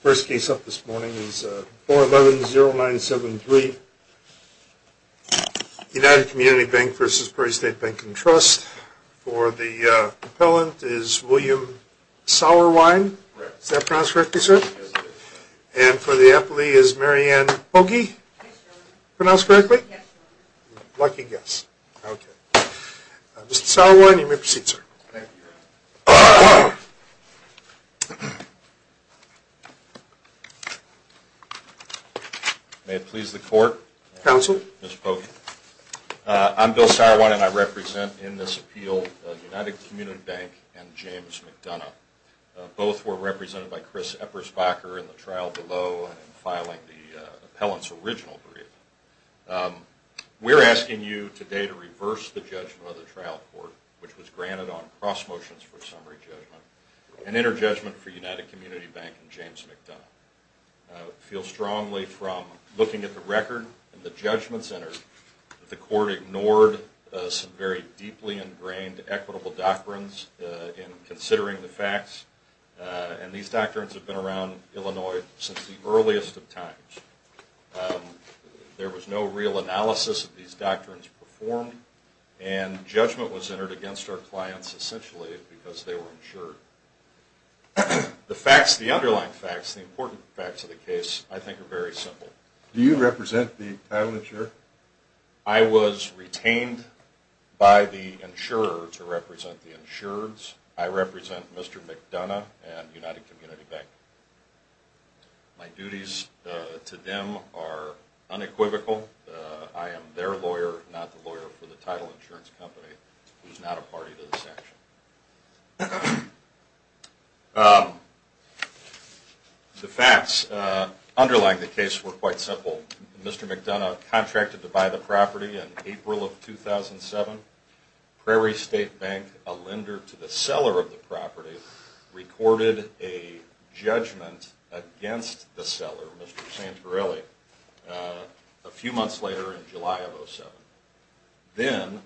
First case up this morning is 411-0973, United Community Bank v. Prairie State Bank & Trust. For the appellant is William Sauerwein. Is that pronounced correctly, sir? Yes, sir. And for the appellee is Maryann Bogie. Yes, sir. Pronounced correctly? Yes, sir. Lucky guess. Okay. Mr. Sauerwein, you may proceed, sir. Thank you. May it please the court. Counsel. Mr. Bogie. I'm Bill Sauerwein and I represent in this appeal United Community Bank and James McDonough. Both were represented by Chris Eppersbacher in the trial below and filing the appellant's original brief. We're asking you today to reverse the judgment of the trial court, which was granted on cross motions for summary judgment, and interjudgment for United Community Bank and James McDonough. I feel strongly from looking at the record and the judgments entered that the court ignored some very deeply ingrained equitable doctrines in considering the facts. And these doctrines have been around Illinois since the earliest of times. There was no real analysis of these doctrines performed, and judgment was entered against our clients essentially because they were insured. The facts, the underlying facts, the important facts of the case I think are very simple. Do you represent the appellant, sir? I was retained by the insurer to represent the insurers. I represent Mr. McDonough and United Community Bank. My duties to them are unequivocal. I am their lawyer, not the lawyer for the title insurance company who is not a party to the sanction. The facts underlying the case were quite simple. Mr. McDonough contracted to buy the property in April of 2007. Prairie State Bank, a lender to the seller of the property, recorded a judgment against the seller, Mr. Santorelli. A few months later in July of 2007. Then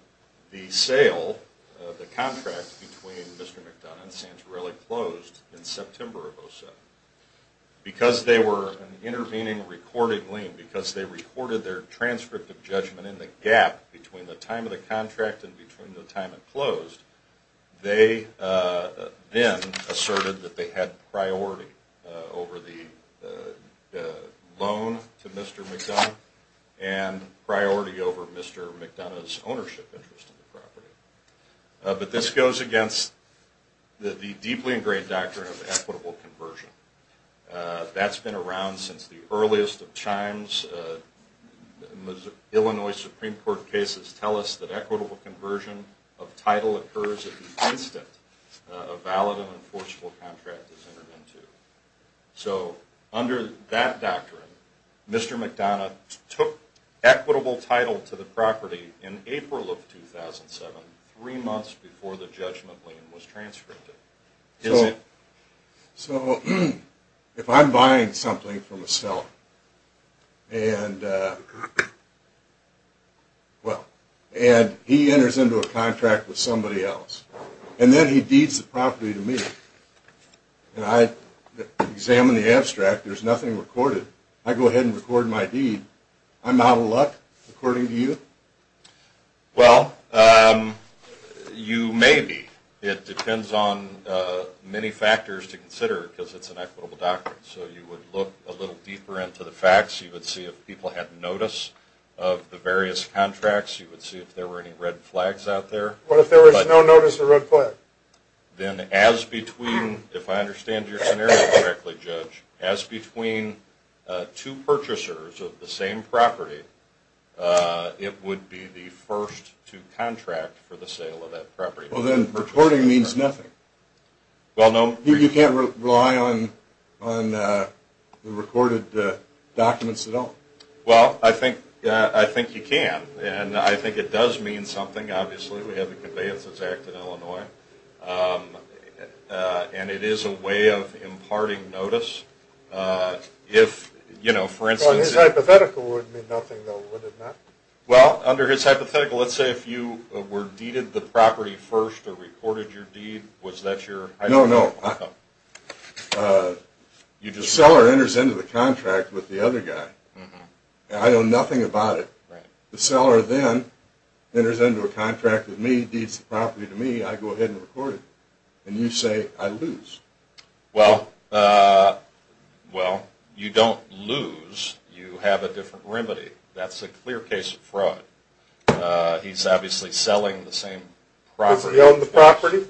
the sale of the contract between Mr. McDonough and Santorelli closed in September of 2007. Because they were intervening reportedly, because they recorded their transcript of judgment in the gap between the time of the contract and between the time it closed, they then asserted that they had priority over the loan to Mr. McDonough and priority over Mr. McDonough's ownership interest in the property. But this goes against the deeply ingrained doctrine of equitable conversion. That's been around since the earliest of times. Illinois Supreme Court cases tell us that equitable conversion of title occurs at the instant a valid and enforceable contract is entered into. So under that doctrine, Mr. McDonough took equitable title to the property in April of 2007, three months before the judgment lien was transcripted. So if I'm buying something from a seller, and he enters into a contract with somebody else, and then he deeds the property to me, and I examine the abstract, there's nothing recorded, I go ahead and record my deed, I'm out of luck, according to you? Well, you may be. It depends on many factors to consider, because it's an equitable doctrine. So you would look a little deeper into the facts, you would see if people had notice of the various contracts, you would see if there were any red flags out there. What if there was no notice of red flags? Then as between, if I understand your scenario correctly, Judge, as between two purchasers of the same property, it would be the first to contract for the sale of that property. Well, then recording means nothing. Well, no. You can't rely on the recorded documents at all. Well, I think you can, and I think it does mean something, obviously. We have the Conveyance Act in Illinois, and it is a way of imparting notice. Well, his hypothetical would mean nothing, though, would it not? Well, under his hypothetical, let's say if you were deeded the property first, or recorded your deed, was that your hypothetical outcome? No, no. The seller enters into the contract with the other guy, and I know nothing about it. The seller then enters into a contract with me, deeds the property to me, I go ahead and record it. And you say, I lose. Well, you don't lose. You have a different remedy. That's a clear case of fraud. He's obviously selling the same property. Does he own the property?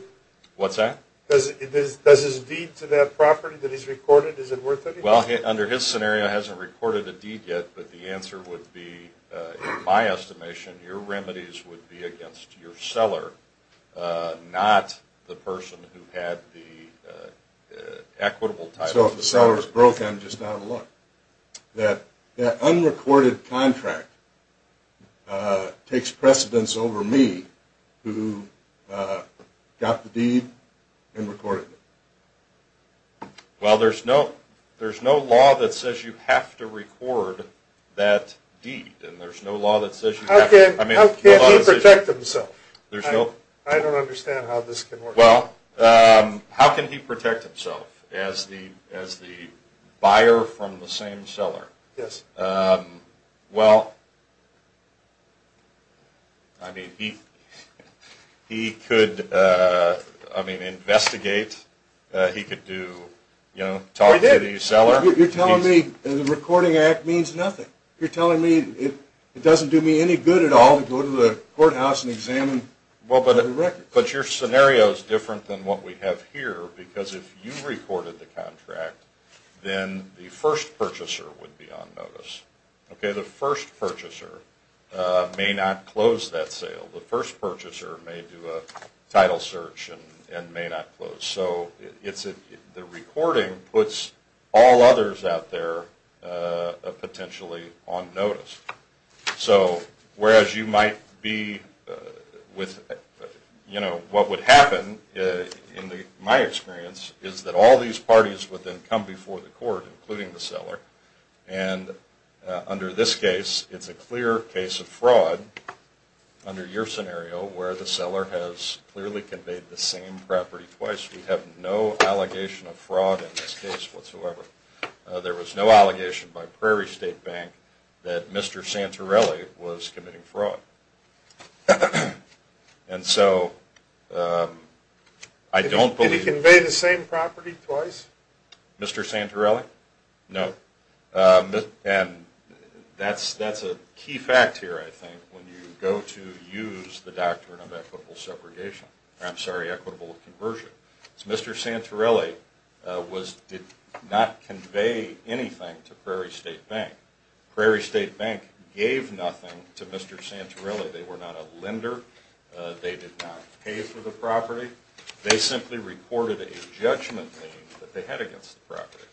What's that? Does his deed to that property that he's recorded, is it worth anything? Well, under his scenario, he hasn't recorded a deed yet, but the answer would be, in my estimation, your remedies would be against your seller, not the person who had the equitable title. So if the seller is broke, I'm just out of luck. That unrecorded contract takes precedence over me, who got the deed and recorded it. Well, there's no law that says you have to record that deed. How can he protect himself? I don't understand how this can work. Well, how can he protect himself as the buyer from the same seller? Yes. Well, I mean, he could investigate. He could talk to the seller. You're telling me the recording act means nothing. You're telling me it doesn't do me any good at all to go to the courthouse and examine the records. But your scenario is different than what we have here, because if you recorded the contract, then the first purchaser would be on notice. The first purchaser may not close that sale. The first purchaser may do a title search and may not close. So the recording puts all others out there potentially on notice. So whereas you might be with, you know, what would happen, in my experience, is that all these parties would then come before the court, including the seller. And under this case, it's a clear case of fraud. Under your scenario, where the seller has clearly conveyed the same property twice, we have no allegation of fraud in this case whatsoever. There was no allegation by Prairie State Bank that Mr. Santorelli was committing fraud. And so I don't believe. Did he convey the same property twice? Mr. Santorelli? No. And that's a key fact here, I think, when you go to use the Doctrine of Equitable Segregation. I'm sorry, Equitable Conversion. Mr. Santorelli did not convey anything to Prairie State Bank. Prairie State Bank gave nothing to Mr. Santorelli. They were not a lender. They did not pay for the property. They simply recorded a judgment claim that they had against the property.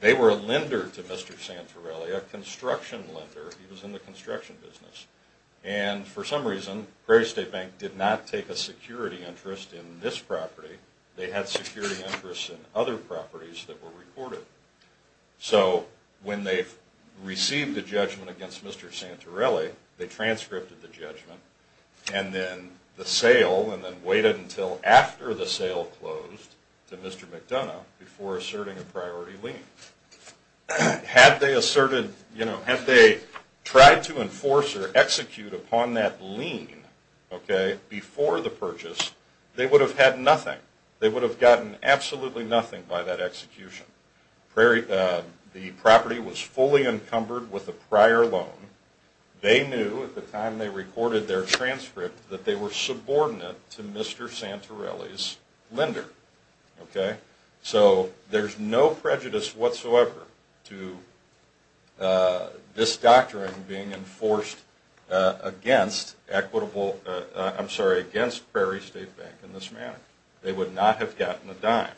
They were a lender to Mr. Santorelli, a construction lender. He was in the construction business. And for some reason, Prairie State Bank did not take a security interest in this property. They had security interests in other properties that were recorded. So when they received the judgment against Mr. Santorelli, they transcripted the judgment, and then the sale, and then waited until after the sale closed to Mr. McDonough before asserting a priority lien. Had they tried to enforce or execute upon that lien before the purchase, they would have had nothing. They would have gotten absolutely nothing by that execution. The property was fully encumbered with a prior loan. They knew at the time they recorded their transcript that they were subordinate to Mr. Santorelli's lender. So there's no prejudice whatsoever to this doctrine being enforced against Prairie State Bank in this manner. They would not have gotten a dime.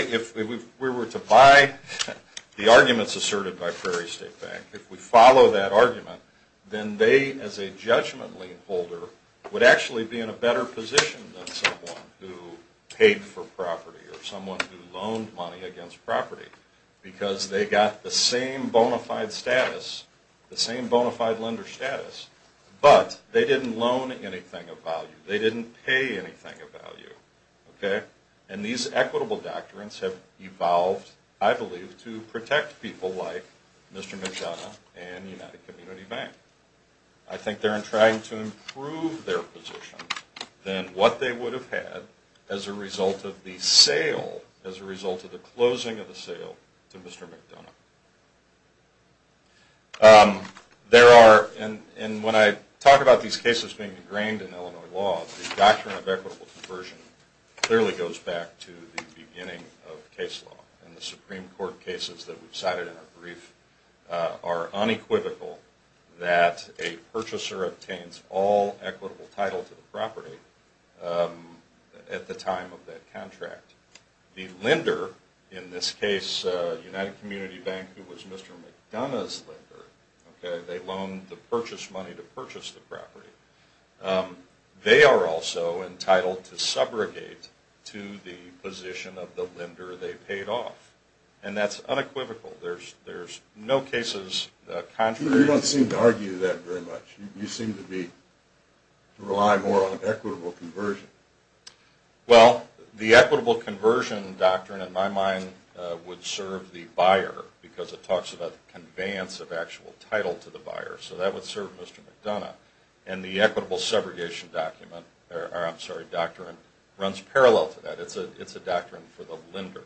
If we were to buy the arguments asserted by Prairie State Bank, if we follow that argument, then they as a judgment lien holder would actually be in a better position than someone who paid for property or someone who loaned money against property, because they got the same bona fide status, the same bona fide lender status, but they didn't loan anything of value. They didn't pay anything of value. And these equitable doctrines have evolved, I believe, to protect people like Mr. McDonough and United Community Bank. I think they're trying to improve their position than what they would have had as a result of the sale, as a result of the closing of the sale to Mr. McDonough. There are, and when I talk about these cases being ingrained in Illinois law, the doctrine of equitable conversion clearly goes back to the beginning of case law. And the Supreme Court cases that we cited in our brief are unequivocal that a purchaser obtains all equitable title to the property at the time of that contract. The lender, in this case United Community Bank, who was Mr. McDonough's lender, they loaned the purchase money to purchase the property, they are also entitled to subrogate to the position of the lender they paid off. And that's unequivocal. There's no cases contrary to that. You don't seem to argue that very much. You seem to rely more on equitable conversion. Well, the equitable conversion doctrine in my mind would serve the buyer, because it talks about the conveyance of actual title to the buyer. So that would serve Mr. McDonough. And the equitable subrogation doctrine runs parallel to that. It's a doctrine for the lender.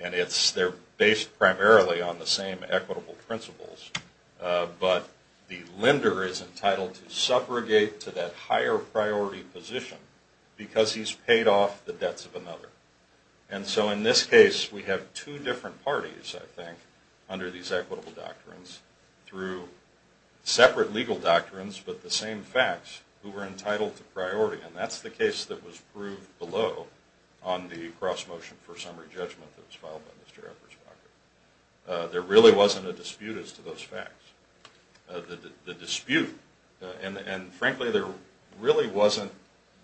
And they're based primarily on the same equitable principles. But the lender is entitled to subrogate to that higher priority position, because he's paid off the debts of another. And so in this case, we have two different parties, I think, under these equitable doctrines, through separate legal doctrines, but the same facts, who are entitled to priority. And that's the case that was proved below on the cross-motion for summary judgment that was filed by Mr. Eppersbacher. There really wasn't a dispute as to those facts. The dispute, and frankly, there really wasn't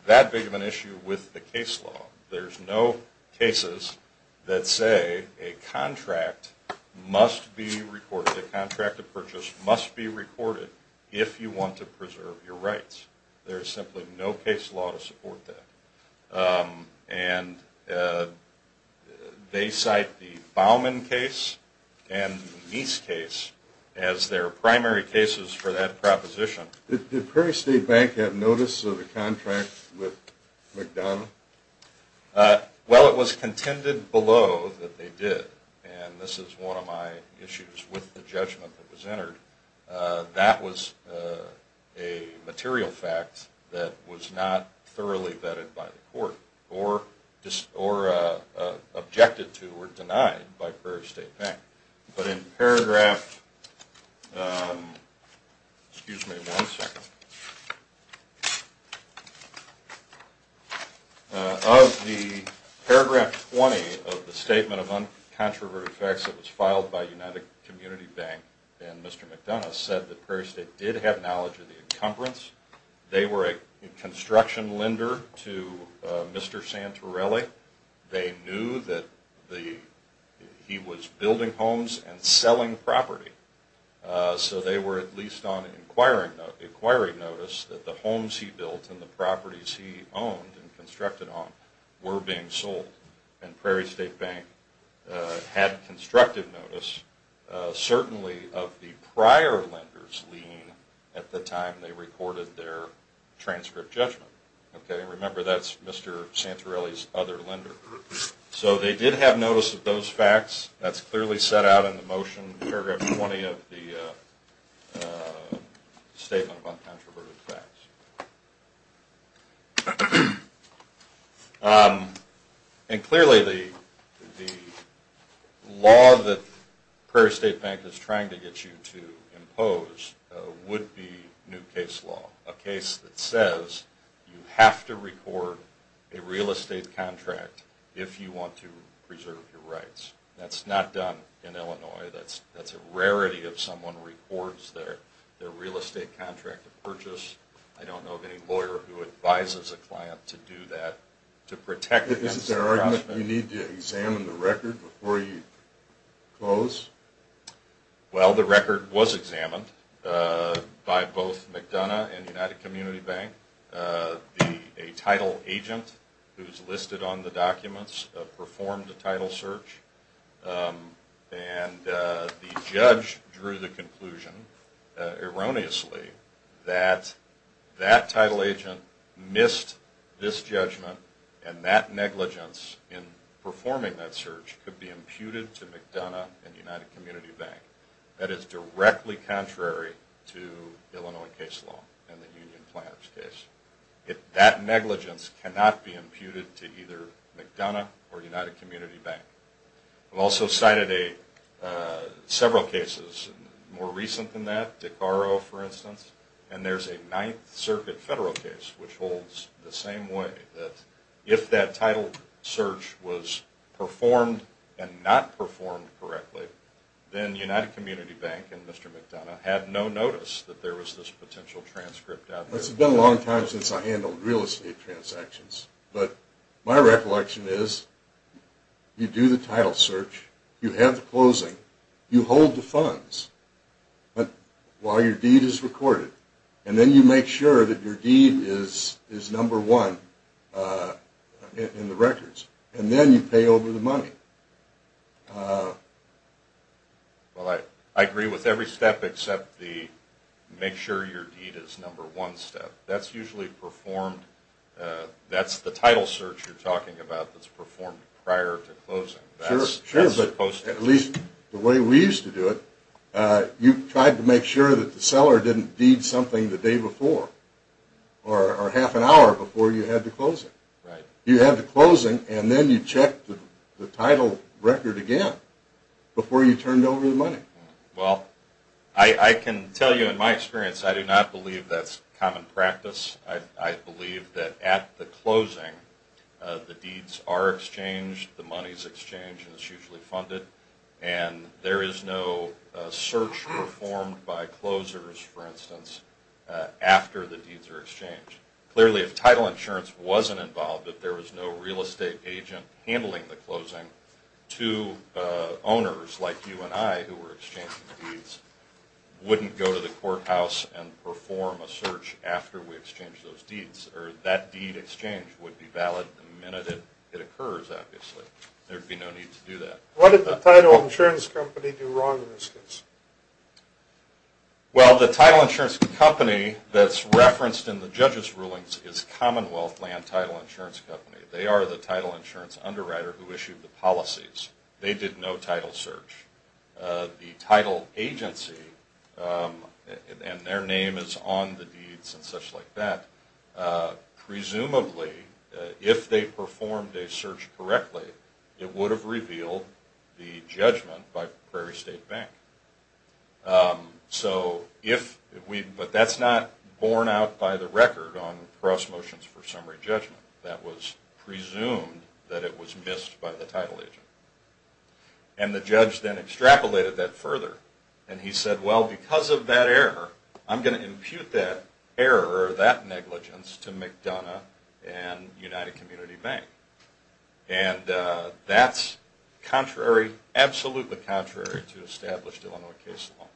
that big of an issue with the case law. There's no cases that say a contract must be recorded, a contract of purchase must be recorded if you want to preserve your rights. There's simply no case law to support that. And they cite the Baumann case and the Meese case as their primary cases for that proposition. Did Prairie State Bank have notice of the contract with McDonough? Well, it was contended below that they did. And this is one of my issues with the judgment that was entered. That was a material fact that was not thoroughly vetted by the court or objected to or denied by Prairie State Bank. But in paragraph, excuse me one second. Of the paragraph 20 of the Statement of Uncontroverted Facts that was filed by United Community Bank and Mr. McDonough said that Prairie State did have knowledge of the encumbrance. They were a construction lender to Mr. Santorelli. They knew that he was building homes and selling property. So they were at least on inquiry notice that the homes he built and the properties he owned and constructed on were being sold. And Prairie State Bank had constructive notice certainly of the prior lender's lien at the time they recorded their transcript judgment. Remember that's Mr. Santorelli's other lender. So they did have notice of those facts. That's clearly set out in the motion, paragraph 20 of the Statement of Uncontroverted Facts. And clearly the law that Prairie State Bank is trying to get you to impose would be new case law. A case that says you have to record a real estate contract if you want to preserve your rights. That's not done in Illinois. That's a rarity if someone records their real estate contract to purchase. I don't know of any lawyer who advises a client to do that to protect against harassment. Is there an argument that you need to examine the record before you close? Well, the record was examined by both McDonough and United Community Bank. A title agent who's listed on the documents performed a title search. And the judge drew the conclusion erroneously that that title agent missed this judgment and that negligence in performing that search could be imputed to McDonough and United Community Bank. That is directly contrary to Illinois case law and the union planner's case. That negligence cannot be imputed to either McDonough or United Community Bank. I've also cited several cases more recent than that. And there's a Ninth Circuit federal case which holds the same way. If that title search was performed and not performed correctly, then United Community Bank and Mr. McDonough had no notice that there was this potential transcript out there. It's been a long time since I handled real estate transactions. But my recollection is you do the title search. You have the closing. You hold the funds. While your deed is recorded. And then you make sure that your deed is number one in the records. And then you pay over the money. Well, I agree with every step except the make sure your deed is number one step. That's usually performed. That's the title search you're talking about that's performed prior to closing. At least the way we used to do it. You tried to make sure that the seller didn't deed something the day before. Or half an hour before you had to close it. You had the closing and then you checked the title record again before you turned over the money. Well, I can tell you in my experience I do not believe that's common practice. I believe that at the closing the deeds are exchanged. The money is exchanged and it's usually funded. And there is no search performed by closers, for instance, after the deeds are exchanged. Clearly if title insurance wasn't involved. If there was no real estate agent handling the closing. Two owners like you and I who were exchanging deeds wouldn't go to the courthouse and perform a search after we exchanged those deeds. Or that deed exchange would be valid the minute it occurs, obviously. There would be no need to do that. What did the title insurance company do wrong in this case? Well, the title insurance company that's referenced in the judge's rulings is Commonwealth Land Title Insurance Company. They are the title insurance underwriter who issued the policies. They did no title search. The title agency, and their name is on the deeds and such like that, presumably if they performed a search correctly it would have revealed the judgment by Prairie State Bank. But that's not borne out by the record on cross motions for summary judgment. That was presumed that it was missed by the title agent. And the judge then extrapolated that further. And he said, well because of that error I'm going to impute that error or that negligence to McDonough and United Community Bank. And that's contrary, absolutely contrary to established Illinois case law.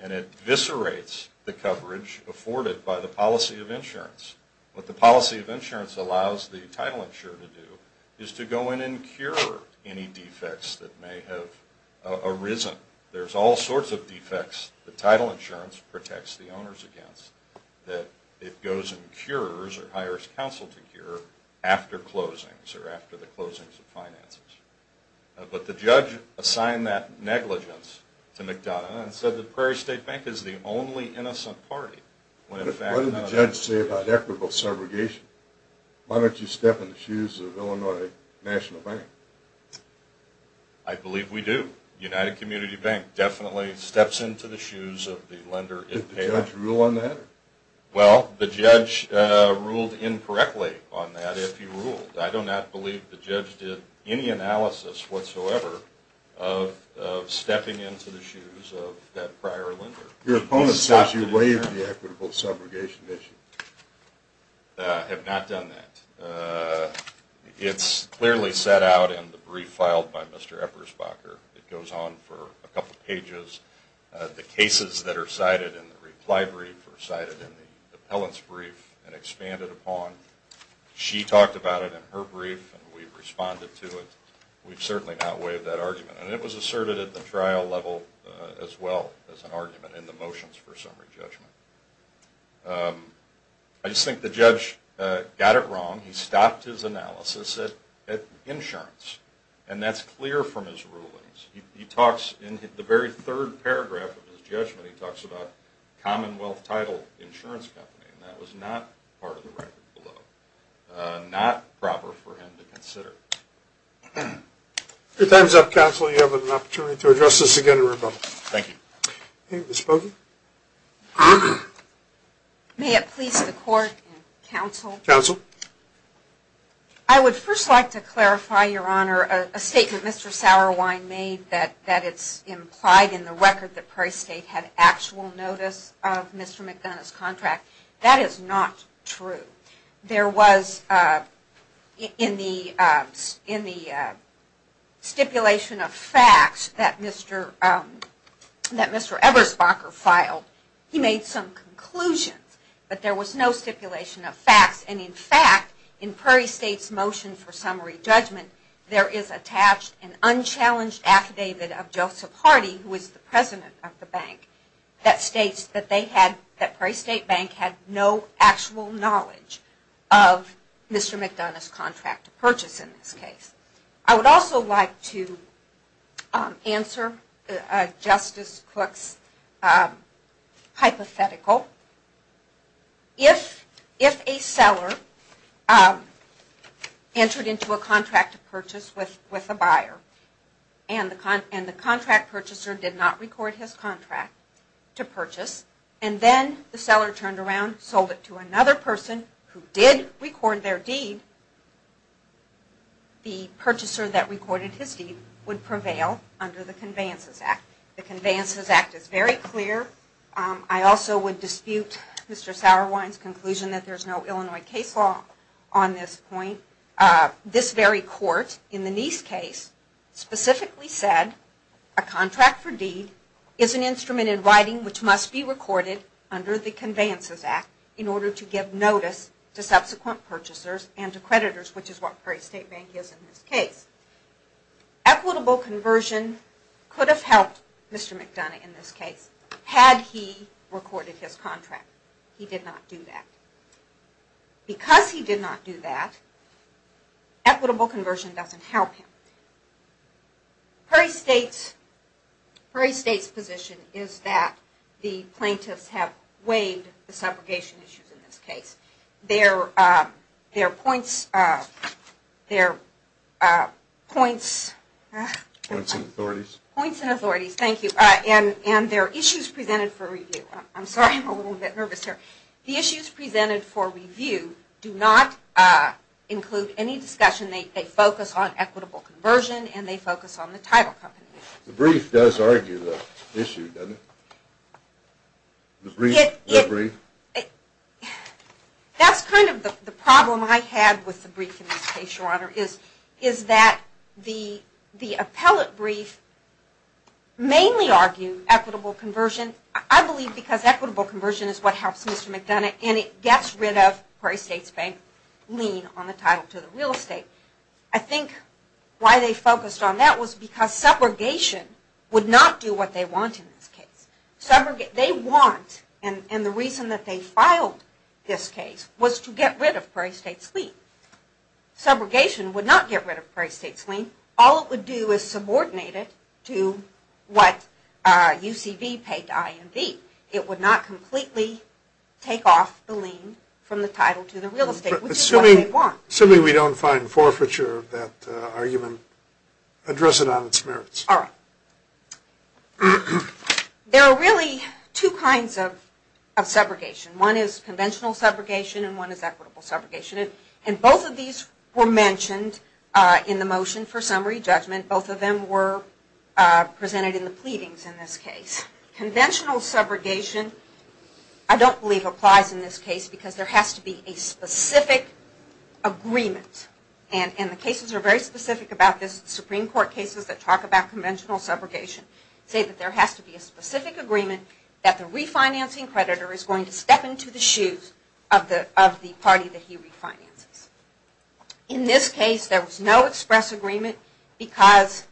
And it eviscerates the coverage afforded by the policy of insurance. What the policy of insurance allows the title insurer to do is to go in and cure any defects that may have arisen. There's all sorts of defects the title insurance protects the owners against that it goes and cures or hires counsel to cure after closings or after the closings of finances. But the judge assigned that negligence to McDonough and said that Prairie State Bank is the only innocent party. What did the judge say about equitable segregation? Why don't you step in the shoes of Illinois National Bank? I believe we do. United Community Bank definitely steps into the shoes of the lender. Did the judge rule on that? Well, the judge ruled incorrectly on that if he ruled. I do not believe the judge did any analysis whatsoever of stepping into the shoes of that prior lender. Your opponent says you waived the equitable segregation issue. I have not done that. It's clearly set out in the brief filed by Mr. Eppersbacher. It goes on for a couple of pages. The cases that are cited in the reply brief are cited in the appellant's brief and expanded upon. She talked about it in her brief and we've responded to it. We've certainly not waived that argument. And it was asserted at the trial level as well as an argument in the motions for summary judgment. I just think the judge got it wrong. He stopped his analysis at insurance, and that's clear from his rulings. In the very third paragraph of his judgment, he talks about Commonwealth Title Insurance Company, and that was not part of the record below. Not proper for him to consider. Your time is up, counsel. You have an opportunity to address this again in rebuttal. Thank you. Ms. Bogan. May it please the court and counsel. Counsel. I would first like to clarify, Your Honor, a statement Mr. Sauerwein made that it's implied in the record that Prairie State had actual notice of Mr. McDonough's contract. That is not true. There was in the stipulation of facts that Mr. Eberspacher filed, he made some conclusions, but there was no stipulation of facts. And in fact, in Prairie State's motion for summary judgment, there is attached an unchallenged affidavit of Joseph Hardy, who is the president of the bank, that states that Prairie State Bank had no actual knowledge of Mr. McDonough's contract purchase in this case. I would also like to answer Justice Cook's hypothetical. If a seller entered into a contract purchase with a buyer and the contract purchaser did not record his contract to purchase, and then the seller turned around and sold it to another person who did record their deed, the purchaser that recorded his deed would prevail under the Conveyances Act. The Conveyances Act is very clear. I also would dispute Mr. Sauerwein's conclusion that there is no Illinois case law on this point. This very court, in the Nice case, specifically said a contract for deed is an instrument in writing which must be recorded under the Conveyances Act in order to give notice to subsequent purchasers and to creditors, which is what Prairie State Bank is in this case. Equitable conversion could have helped Mr. McDonough in this case had he recorded his contract. He did not do that. Because he did not do that, equitable conversion doesn't help him. Prairie State's position is that the plaintiffs have waived the separation issues in this case. There are points and authorities, and there are issues presented for review. I'm sorry, I'm a little bit nervous here. The issues presented for review do not include any discussion. They focus on equitable conversion and they focus on the title company. The brief does argue the issue, doesn't it? That's kind of the problem I had with the brief in this case, Your Honor, is that the appellate brief mainly argued equitable conversion, I believe because equitable conversion is what helps Mr. McDonough and it gets rid of Prairie State's lien on the title to the real estate. I think why they focused on that was because subrogation would not do what they want in this case. They want, and the reason that they filed this case was to get rid of Prairie State's lien. Subrogation would not get rid of Prairie State's lien. All it would do is subordinate it to what UCV paid to IMV. It would not completely take off the lien from the title to the real estate, which is what they want. Assuming we don't find forfeiture of that argument, address it on its merits. All right. There are really two kinds of subrogation. One is conventional subrogation and one is equitable subrogation. Both of these were mentioned in the motion for summary judgment. Both of them were presented in the pleadings in this case. Conventional subrogation I don't believe applies in this case because there has to be a specific agreement. The cases are very specific about this. Supreme Court cases that talk about conventional subrogation say that there has to be a specific agreement that the refinancing creditor is going to step into the shoes of the party that he refinances. In this case, there was no express agreement because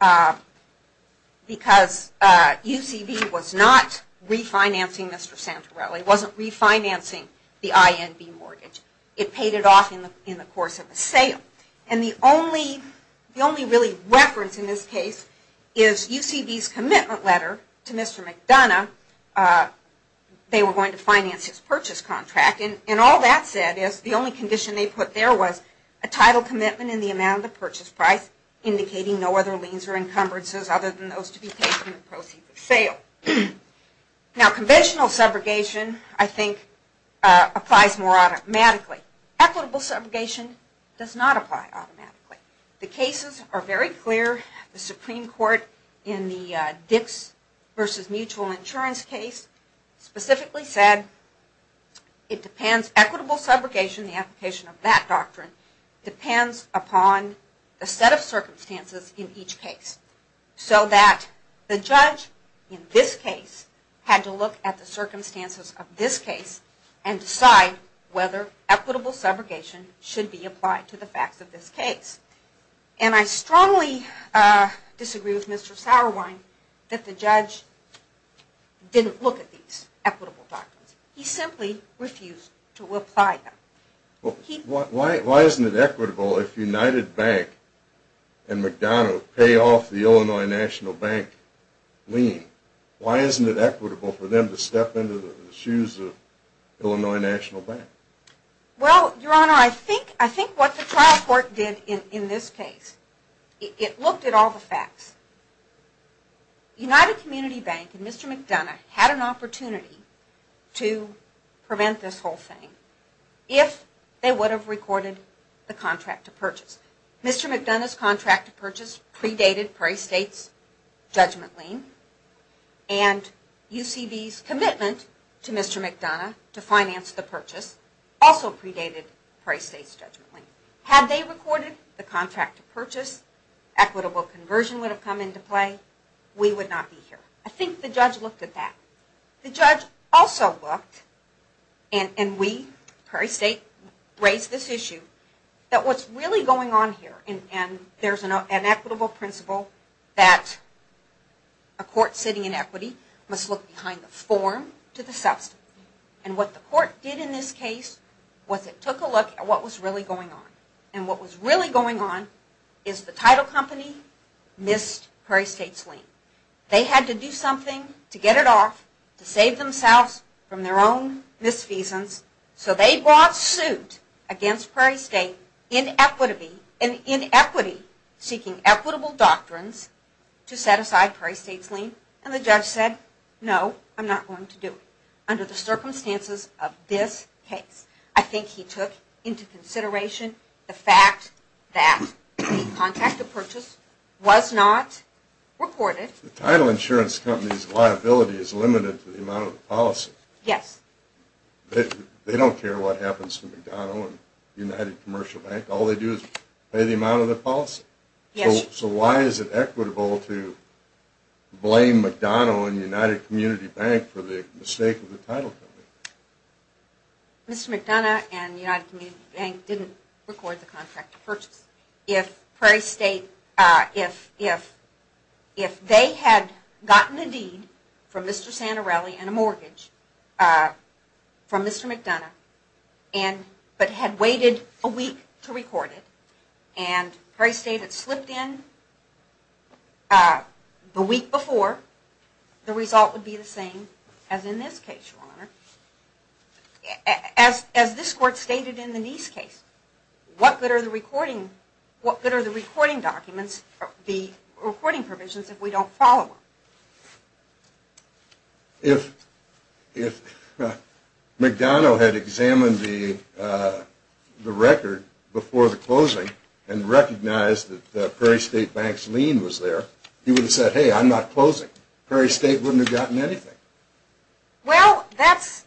UCV was not refinancing Mr. Santorelli. It wasn't refinancing the IMV mortgage. It paid it off in the course of the sale. The only really reference in this case is UCV's commitment letter to Mr. McDonough. They were going to finance his purchase contract. All that said is the only condition they put there was a title commitment in the amount of the purchase price indicating no other liens or encumbrances other than those to be paid from the proceeds of sale. Conventional subrogation I think applies more automatically. Equitable subrogation does not apply automatically. The cases are very clear. The Supreme Court in the Dix v. Mutual Insurance case specifically said it depends, equitable subrogation, the application of that doctrine, depends upon the set of circumstances in each case. So that the judge in this case had to look at the circumstances of this case and decide whether equitable subrogation should be applied to the facts of this case. And I strongly disagree with Mr. Sauerwein that the judge didn't look at these equitable doctrines. He simply refused to apply them. Why isn't it equitable if United Bank and McDonough pay off the Illinois National Bank lien? Why isn't it equitable for them to step into the shoes of Illinois National Bank? Well, Your Honor, I think what the trial court did in this case, it looked at all the facts. United Community Bank and Mr. McDonough had an opportunity to prevent this whole thing if they would have recorded the contract to purchase. Mr. McDonough's contract to purchase predated Prairie State's judgment lien. And UCB's commitment to Mr. McDonough to finance the purchase also predated Prairie State's judgment lien. Had they recorded the contract to purchase, equitable conversion would have come into play. We would not be here. I think the judge looked at that. The judge also looked, and we, Prairie State, raised this issue that what's really going on here, and there's an equitable principle that a court sitting in equity must look behind the form to the substance. And what the court did in this case was it took a look at what was really going on. And what was really going on is the title company missed Prairie State's lien. They had to do something to get it off, to save themselves from their own misfeasance. So they brought suit against Prairie State in equity seeking equitable doctrines to set aside Prairie State's lien. And the judge said, no, I'm not going to do it under the circumstances of this case. I think he took into consideration the fact that the contract to purchase was not recorded. The title insurance company's liability is limited to the amount of the policy. Yes. They don't care what happens to McDonough and United Commercial Bank. All they do is pay the amount of the policy. Yes. So why is it equitable to blame McDonough and United Community Bank for the mistake of the title company? Mr. McDonough and United Community Bank didn't record the contract to purchase. If Prairie State, if they had gotten a deed from Mr. Santorelli and a mortgage from Mr. McDonough, but had waited a week to record it, and Prairie State had slipped in the week before, the result would be the same as in this case, Your Honor. As this Court stated in the Neese case, what good are the recording documents, the recording provisions, if we don't follow them? If McDonough had examined the record before the closing and recognized that Prairie State Bank's lien was there, he would have said, hey, I'm not closing. Prairie State wouldn't have gotten anything. Well, that's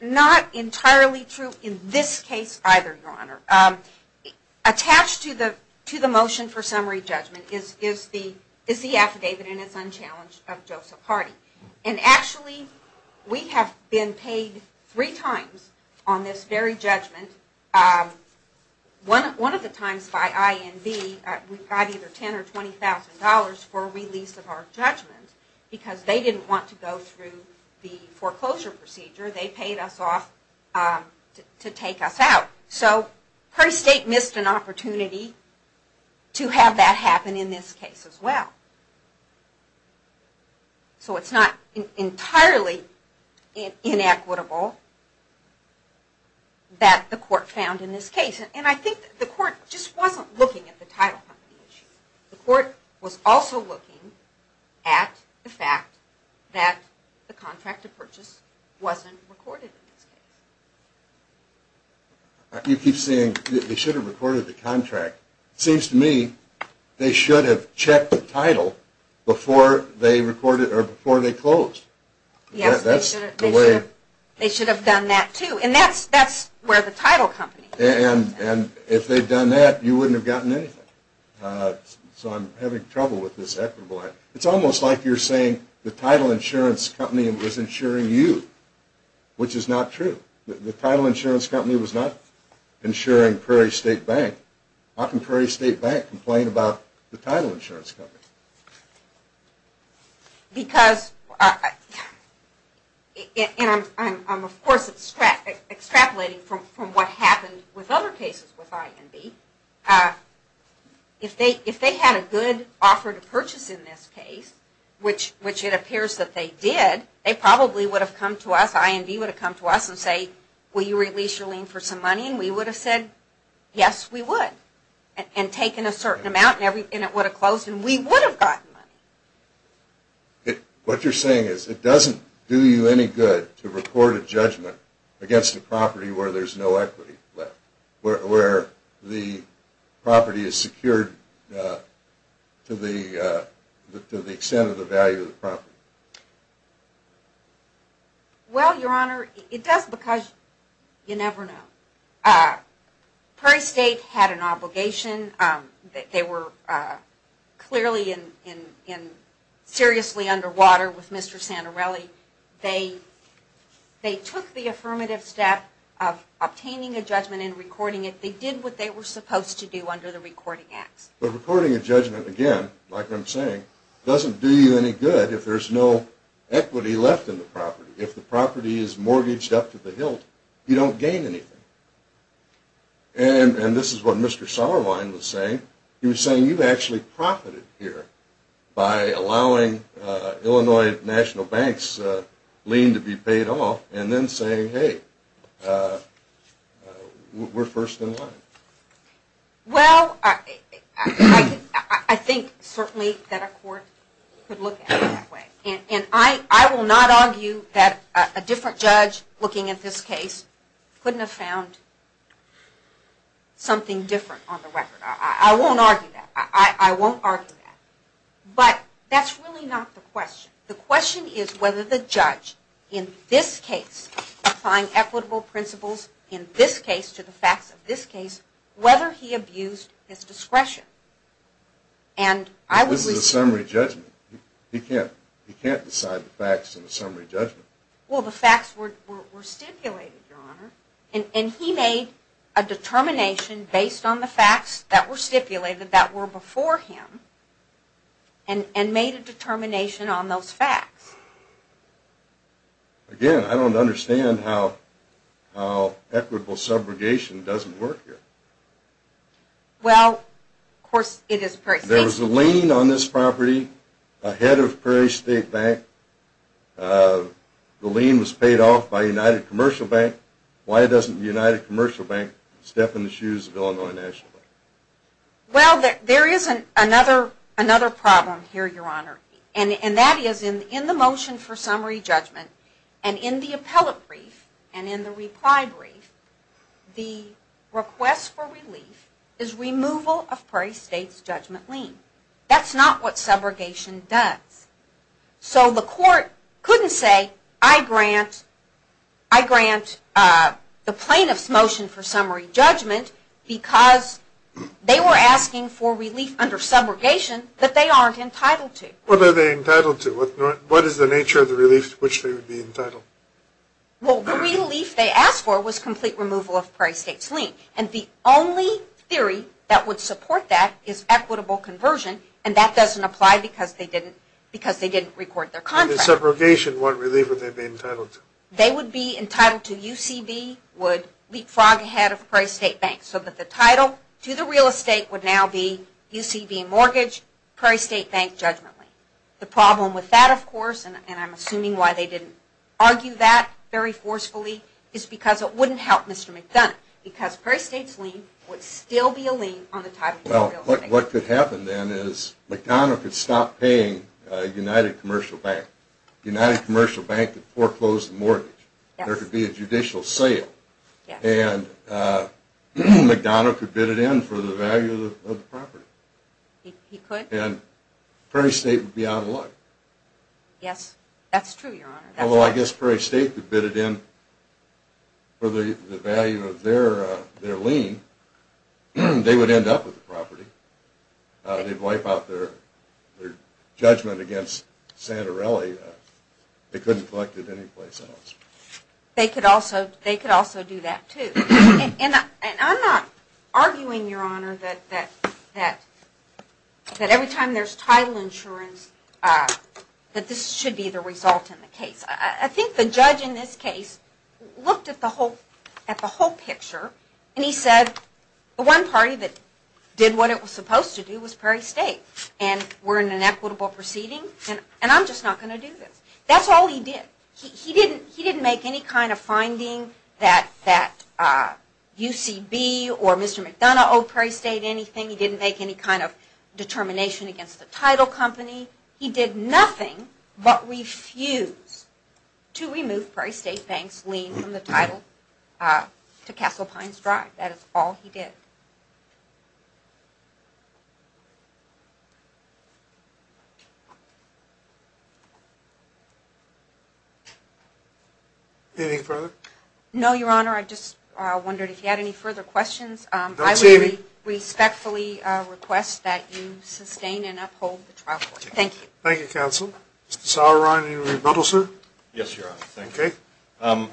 not entirely true in this case either, Your Honor. Attached to the motion for summary judgment is the affidavit, and it's unchallenged, of Joseph Hardy. And actually, we have been paid three times on this very judgment. One of the times by INB, we got either $10,000 or $20,000 for release of our judgment, because they didn't want to go through the foreclosure procedure. They paid us off to take us out. So, Prairie State missed an opportunity to have that happen in this case as well. So, it's not entirely inequitable that the Court found in this case. And I think the Court just wasn't looking at the title company issue. The Court was also looking at the fact that the contract of purchase wasn't recorded in this case. You keep saying they should have recorded the contract. It seems to me they should have checked the title before they closed. Yes, they should have done that too. And that's where the title company comes in. And if they'd done that, you wouldn't have gotten anything. So, I'm having trouble with this equitable act. It's almost like you're saying the title insurance company was insuring you, which is not true. The title insurance company was not insuring Prairie State Bank. How can Prairie State Bank complain about the title insurance company? Because, and I'm of course extrapolating from what happened with other cases with IND. If they had a good offer to purchase in this case, which it appears that they did, they probably would have come to us, IND would have come to us and said, will you release your lien for some money? And we would have said, yes, we would. And taken a certain amount, and it would have closed, and we would have gotten money. What you're saying is it doesn't do you any good to report a judgment against a property where there's no equity left. Where the property is secured to the extent of the value of the property. Well, Your Honor, it does because you never know. Prairie State had an obligation. They were clearly and seriously underwater with Mr. Santorelli. They took the affirmative step of obtaining a judgment and recording it. They did what they were supposed to do under the recording acts. But recording a judgment, again, like I'm saying, doesn't do you any good if there's no equity left in the property. If the property is mortgaged up to the hilt, you don't gain anything. And this is what Mr. Sauerwein was saying. He was saying you've actually profited here by allowing Illinois National Bank's lien to be paid off, and then saying, hey, we're first in line. Well, I think certainly that a court could look at it that way. And I will not argue that a different judge looking at this case couldn't have found something different on the record. I won't argue that. I won't argue that. But that's really not the question. The question is whether the judge in this case applying equitable principles in this case to the facts of this case, whether he abused his discretion. This is a summary judgment. He can't decide the facts in a summary judgment. Well, the facts were stipulated, Your Honor. And he made a determination based on the facts that were stipulated that were before him and made a determination on those facts. Again, I don't understand how equitable subrogation doesn't work here. Well, of course it is. There was a lien on this property ahead of Prairie State Bank. The lien was paid off by United Commercial Bank. Why doesn't United Commercial Bank step in the shoes of Illinois National Bank? Well, there is another problem here, Your Honor. And that is in the motion for summary judgment and in the appellate brief and in the reply brief, the request for relief is removal of Prairie State's judgment lien. That's not what subrogation does. So the court couldn't say, I grant the plaintiff's motion for summary judgment because they were asking for relief under subrogation that they aren't entitled to. What are they entitled to? What is the nature of the relief to which they would be entitled? Well, the relief they asked for was complete removal of Prairie State's lien. And the only theory that would support that is equitable conversion, and that doesn't apply because they didn't record their contract. Under subrogation, what relief would they be entitled to? They would be entitled to UCB would leapfrog ahead of Prairie State Bank so that the title to the real estate would now be UCB mortgage, Prairie State Bank judgment lien. The problem with that, of course, and I'm assuming why they didn't argue that very forcefully, is because it wouldn't help Mr. McDonough. Because Prairie State's lien would still be a lien on the title to the real estate. Well, what could happen then is McDonough could stop paying United Commercial Bank. United Commercial Bank could foreclose the mortgage. There could be a judicial sale. And McDonough could bid it in for the value of the property. He could. And Prairie State would be out of luck. Yes, that's true, Your Honor. Although I guess Prairie State could bid it in for the value of their lien. They would end up with the property. They'd wipe out their judgment against Santorelli. They couldn't collect it anyplace else. They could also do that, too. And I'm not arguing, Your Honor, that every time there's title insurance, that this should be the result in the case. I think the judge in this case looked at the whole picture, and he said the one party that did what it was supposed to do was Prairie State, and we're in an equitable proceeding, and I'm just not going to do this. That's all he did. He didn't make any kind of finding that UCB or Mr. McDonough owed Prairie State anything. He didn't make any kind of determination against the title company. He did nothing but refuse to remove Prairie State Bank's lien from the title to Castle Pines Drive. That is all he did. Anything further? No, Your Honor. I just wondered if you had any further questions. I would respectfully request that you sustain and uphold the trial court. Thank you. Thank you, counsel. Mr. Sauerrein, any rebuttal, sir? Yes, Your Honor. Okay. A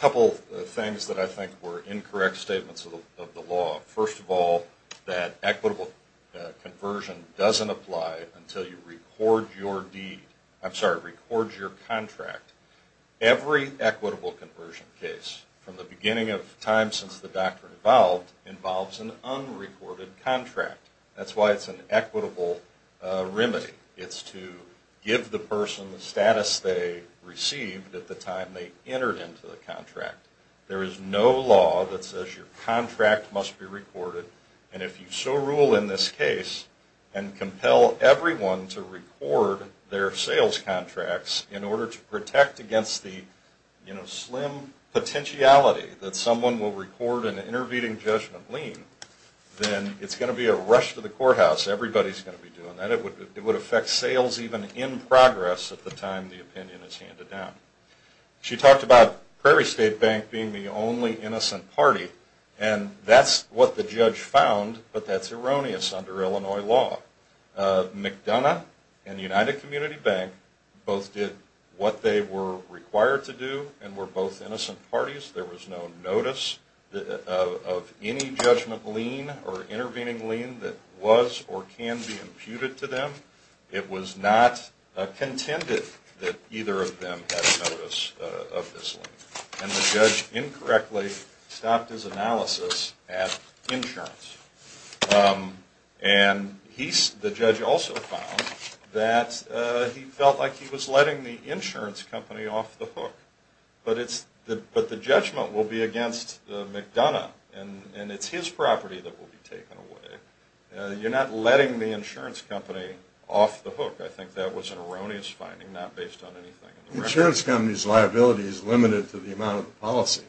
couple of things that I think were incorrect statements of the law. First of all, that equitable conversion doesn't apply until you record your deed. I'm sorry, record your contract. Every equitable conversion case from the beginning of time since the doctrine evolved involves an unrecorded contract. That's why it's an equitable remedy. It's to give the person the status they received at the time they entered into the contract. There is no law that says your contract must be recorded, and if you so rule in this case and compel everyone to record their sales contracts in order to protect against the slim potentiality that someone will record an intervening judgment lien, then it's going to be a rush to the courthouse. Everybody's going to be doing that. It would affect sales even in progress at the time the opinion is handed down. She talked about Prairie State Bank being the only innocent party, and that's what the judge found, but that's erroneous under Illinois law. McDonough and United Community Bank both did what they were required to do and were both innocent parties. There was no notice of any judgment lien or intervening lien that was or can be imputed to them. It was not contended that either of them had notice of this lien. And the judge incorrectly stopped his analysis at insurance. And the judge also found that he felt like he was letting the insurance company off the hook. But the judgment will be against McDonough, and it's his property that will be taken away. You're not letting the insurance company off the hook. I think that was an erroneous finding not based on anything. The insurance company's liability is limited to the amount of the policy,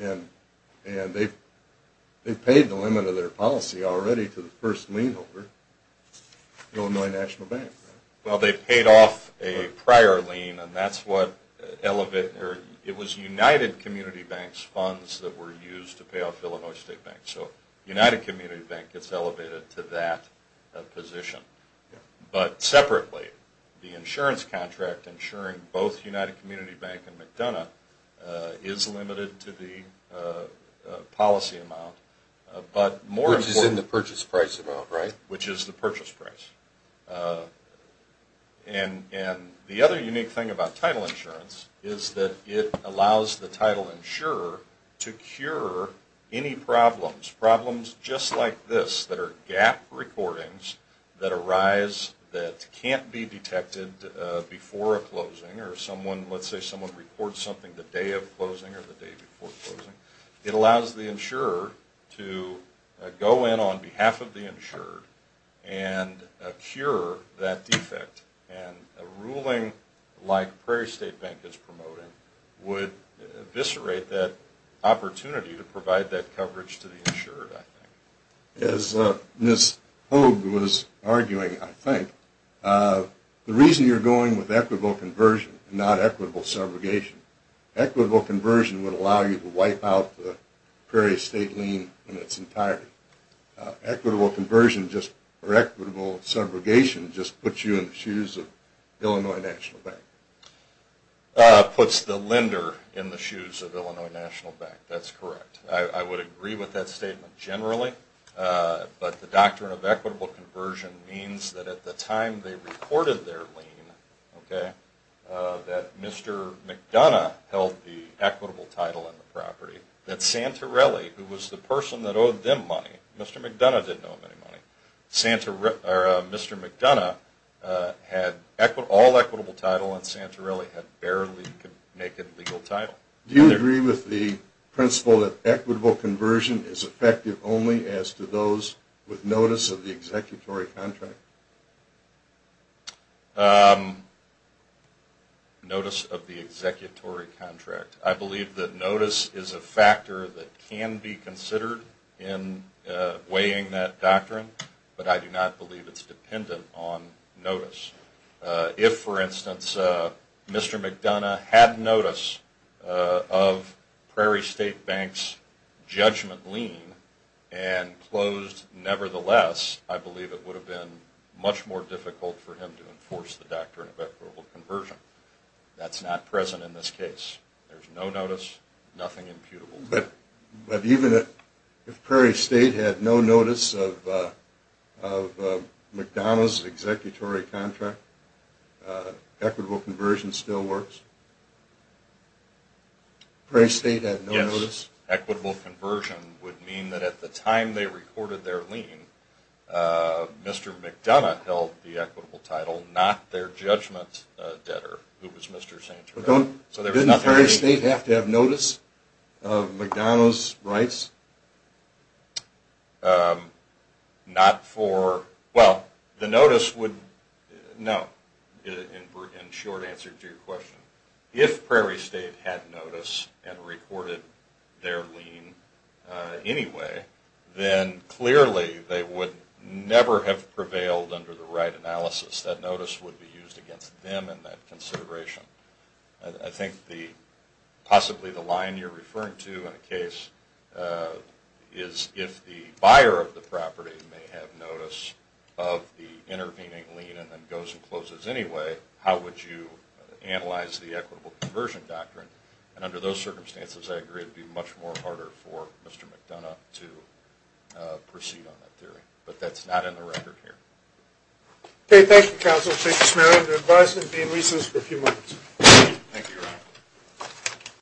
and they paid the limit of their policy already to the first lien holder, Illinois National Bank. Well, they paid off a prior lien, and that's what elevated – it was United Community Bank's funds that were used to pay off Illinois State Bank. So United Community Bank gets elevated to that position. But separately, the insurance contract insuring both United Community Bank and McDonough is limited to the policy amount, but more importantly – Which is in the purchase price amount, right? Which is the purchase price. And the other unique thing about title insurance is that it allows the title insurer to cure any problems, problems just like this that are gap recordings that arise that can't be detected before a closing, or let's say someone records something the day of closing or the day before closing. It allows the insurer to go in on behalf of the insured and cure that defect. And a ruling like Prairie State Bank is promoting would eviscerate that opportunity to provide that coverage to the insured, I think. As Ms. Hogue was arguing, I think, the reason you're going with equitable conversion and not equitable subrogation, equitable conversion would allow you to wipe out the Prairie State lien in its entirety. Equitable conversion or equitable subrogation just puts you in the shoes of Illinois National Bank. Puts the lender in the shoes of Illinois National Bank, that's correct. I would agree with that statement generally, but the doctrine of equitable conversion means that at the time they recorded their lien, that Mr. McDonough held the equitable title in the property, that Santorelli, who was the person that owed them money, Mr. McDonough didn't owe them any money, Mr. McDonough had all equitable title and Santorelli had barely a legal title. Do you agree with the principle that equitable conversion is effective only as to those with notice of the executory contract? Notice of the executory contract. I believe that notice is a factor that can be considered in weighing that doctrine, but I do not believe it's dependent on notice. If, for instance, Mr. McDonough had notice of Prairie State Bank's judgment lien and closed nevertheless, I believe it would have been much more difficult for him to enforce the doctrine of equitable conversion. That's not present in this case. There's no notice, nothing imputable. But even if Prairie State had no notice of McDonough's executory contract, equitable conversion still works? Prairie State had no notice? Yes. Equitable conversion would mean that at the time they recorded their lien, Mr. McDonough held the equitable title, not their judgment debtor, who was Mr. Santorelli. Didn't Prairie State have to have notice of McDonough's rights? Not for – well, the notice would – no, in short answer to your question. If Prairie State had notice and recorded their lien anyway, then clearly they would never have prevailed under the right analysis. That notice would be used against them in that consideration. I think possibly the line you're referring to in a case is if the buyer of the property may have notice of the intervening lien and then goes and closes anyway, how would you analyze the equitable conversion doctrine? And under those circumstances, I agree it would be much more harder for Mr. McDonough to proceed on that theory. But that's not in the record here. Okay, thank you, Counsel. Thank you, Mr. Merriam. Your advisement will be in recess for a few minutes. Thank you, Your Honor.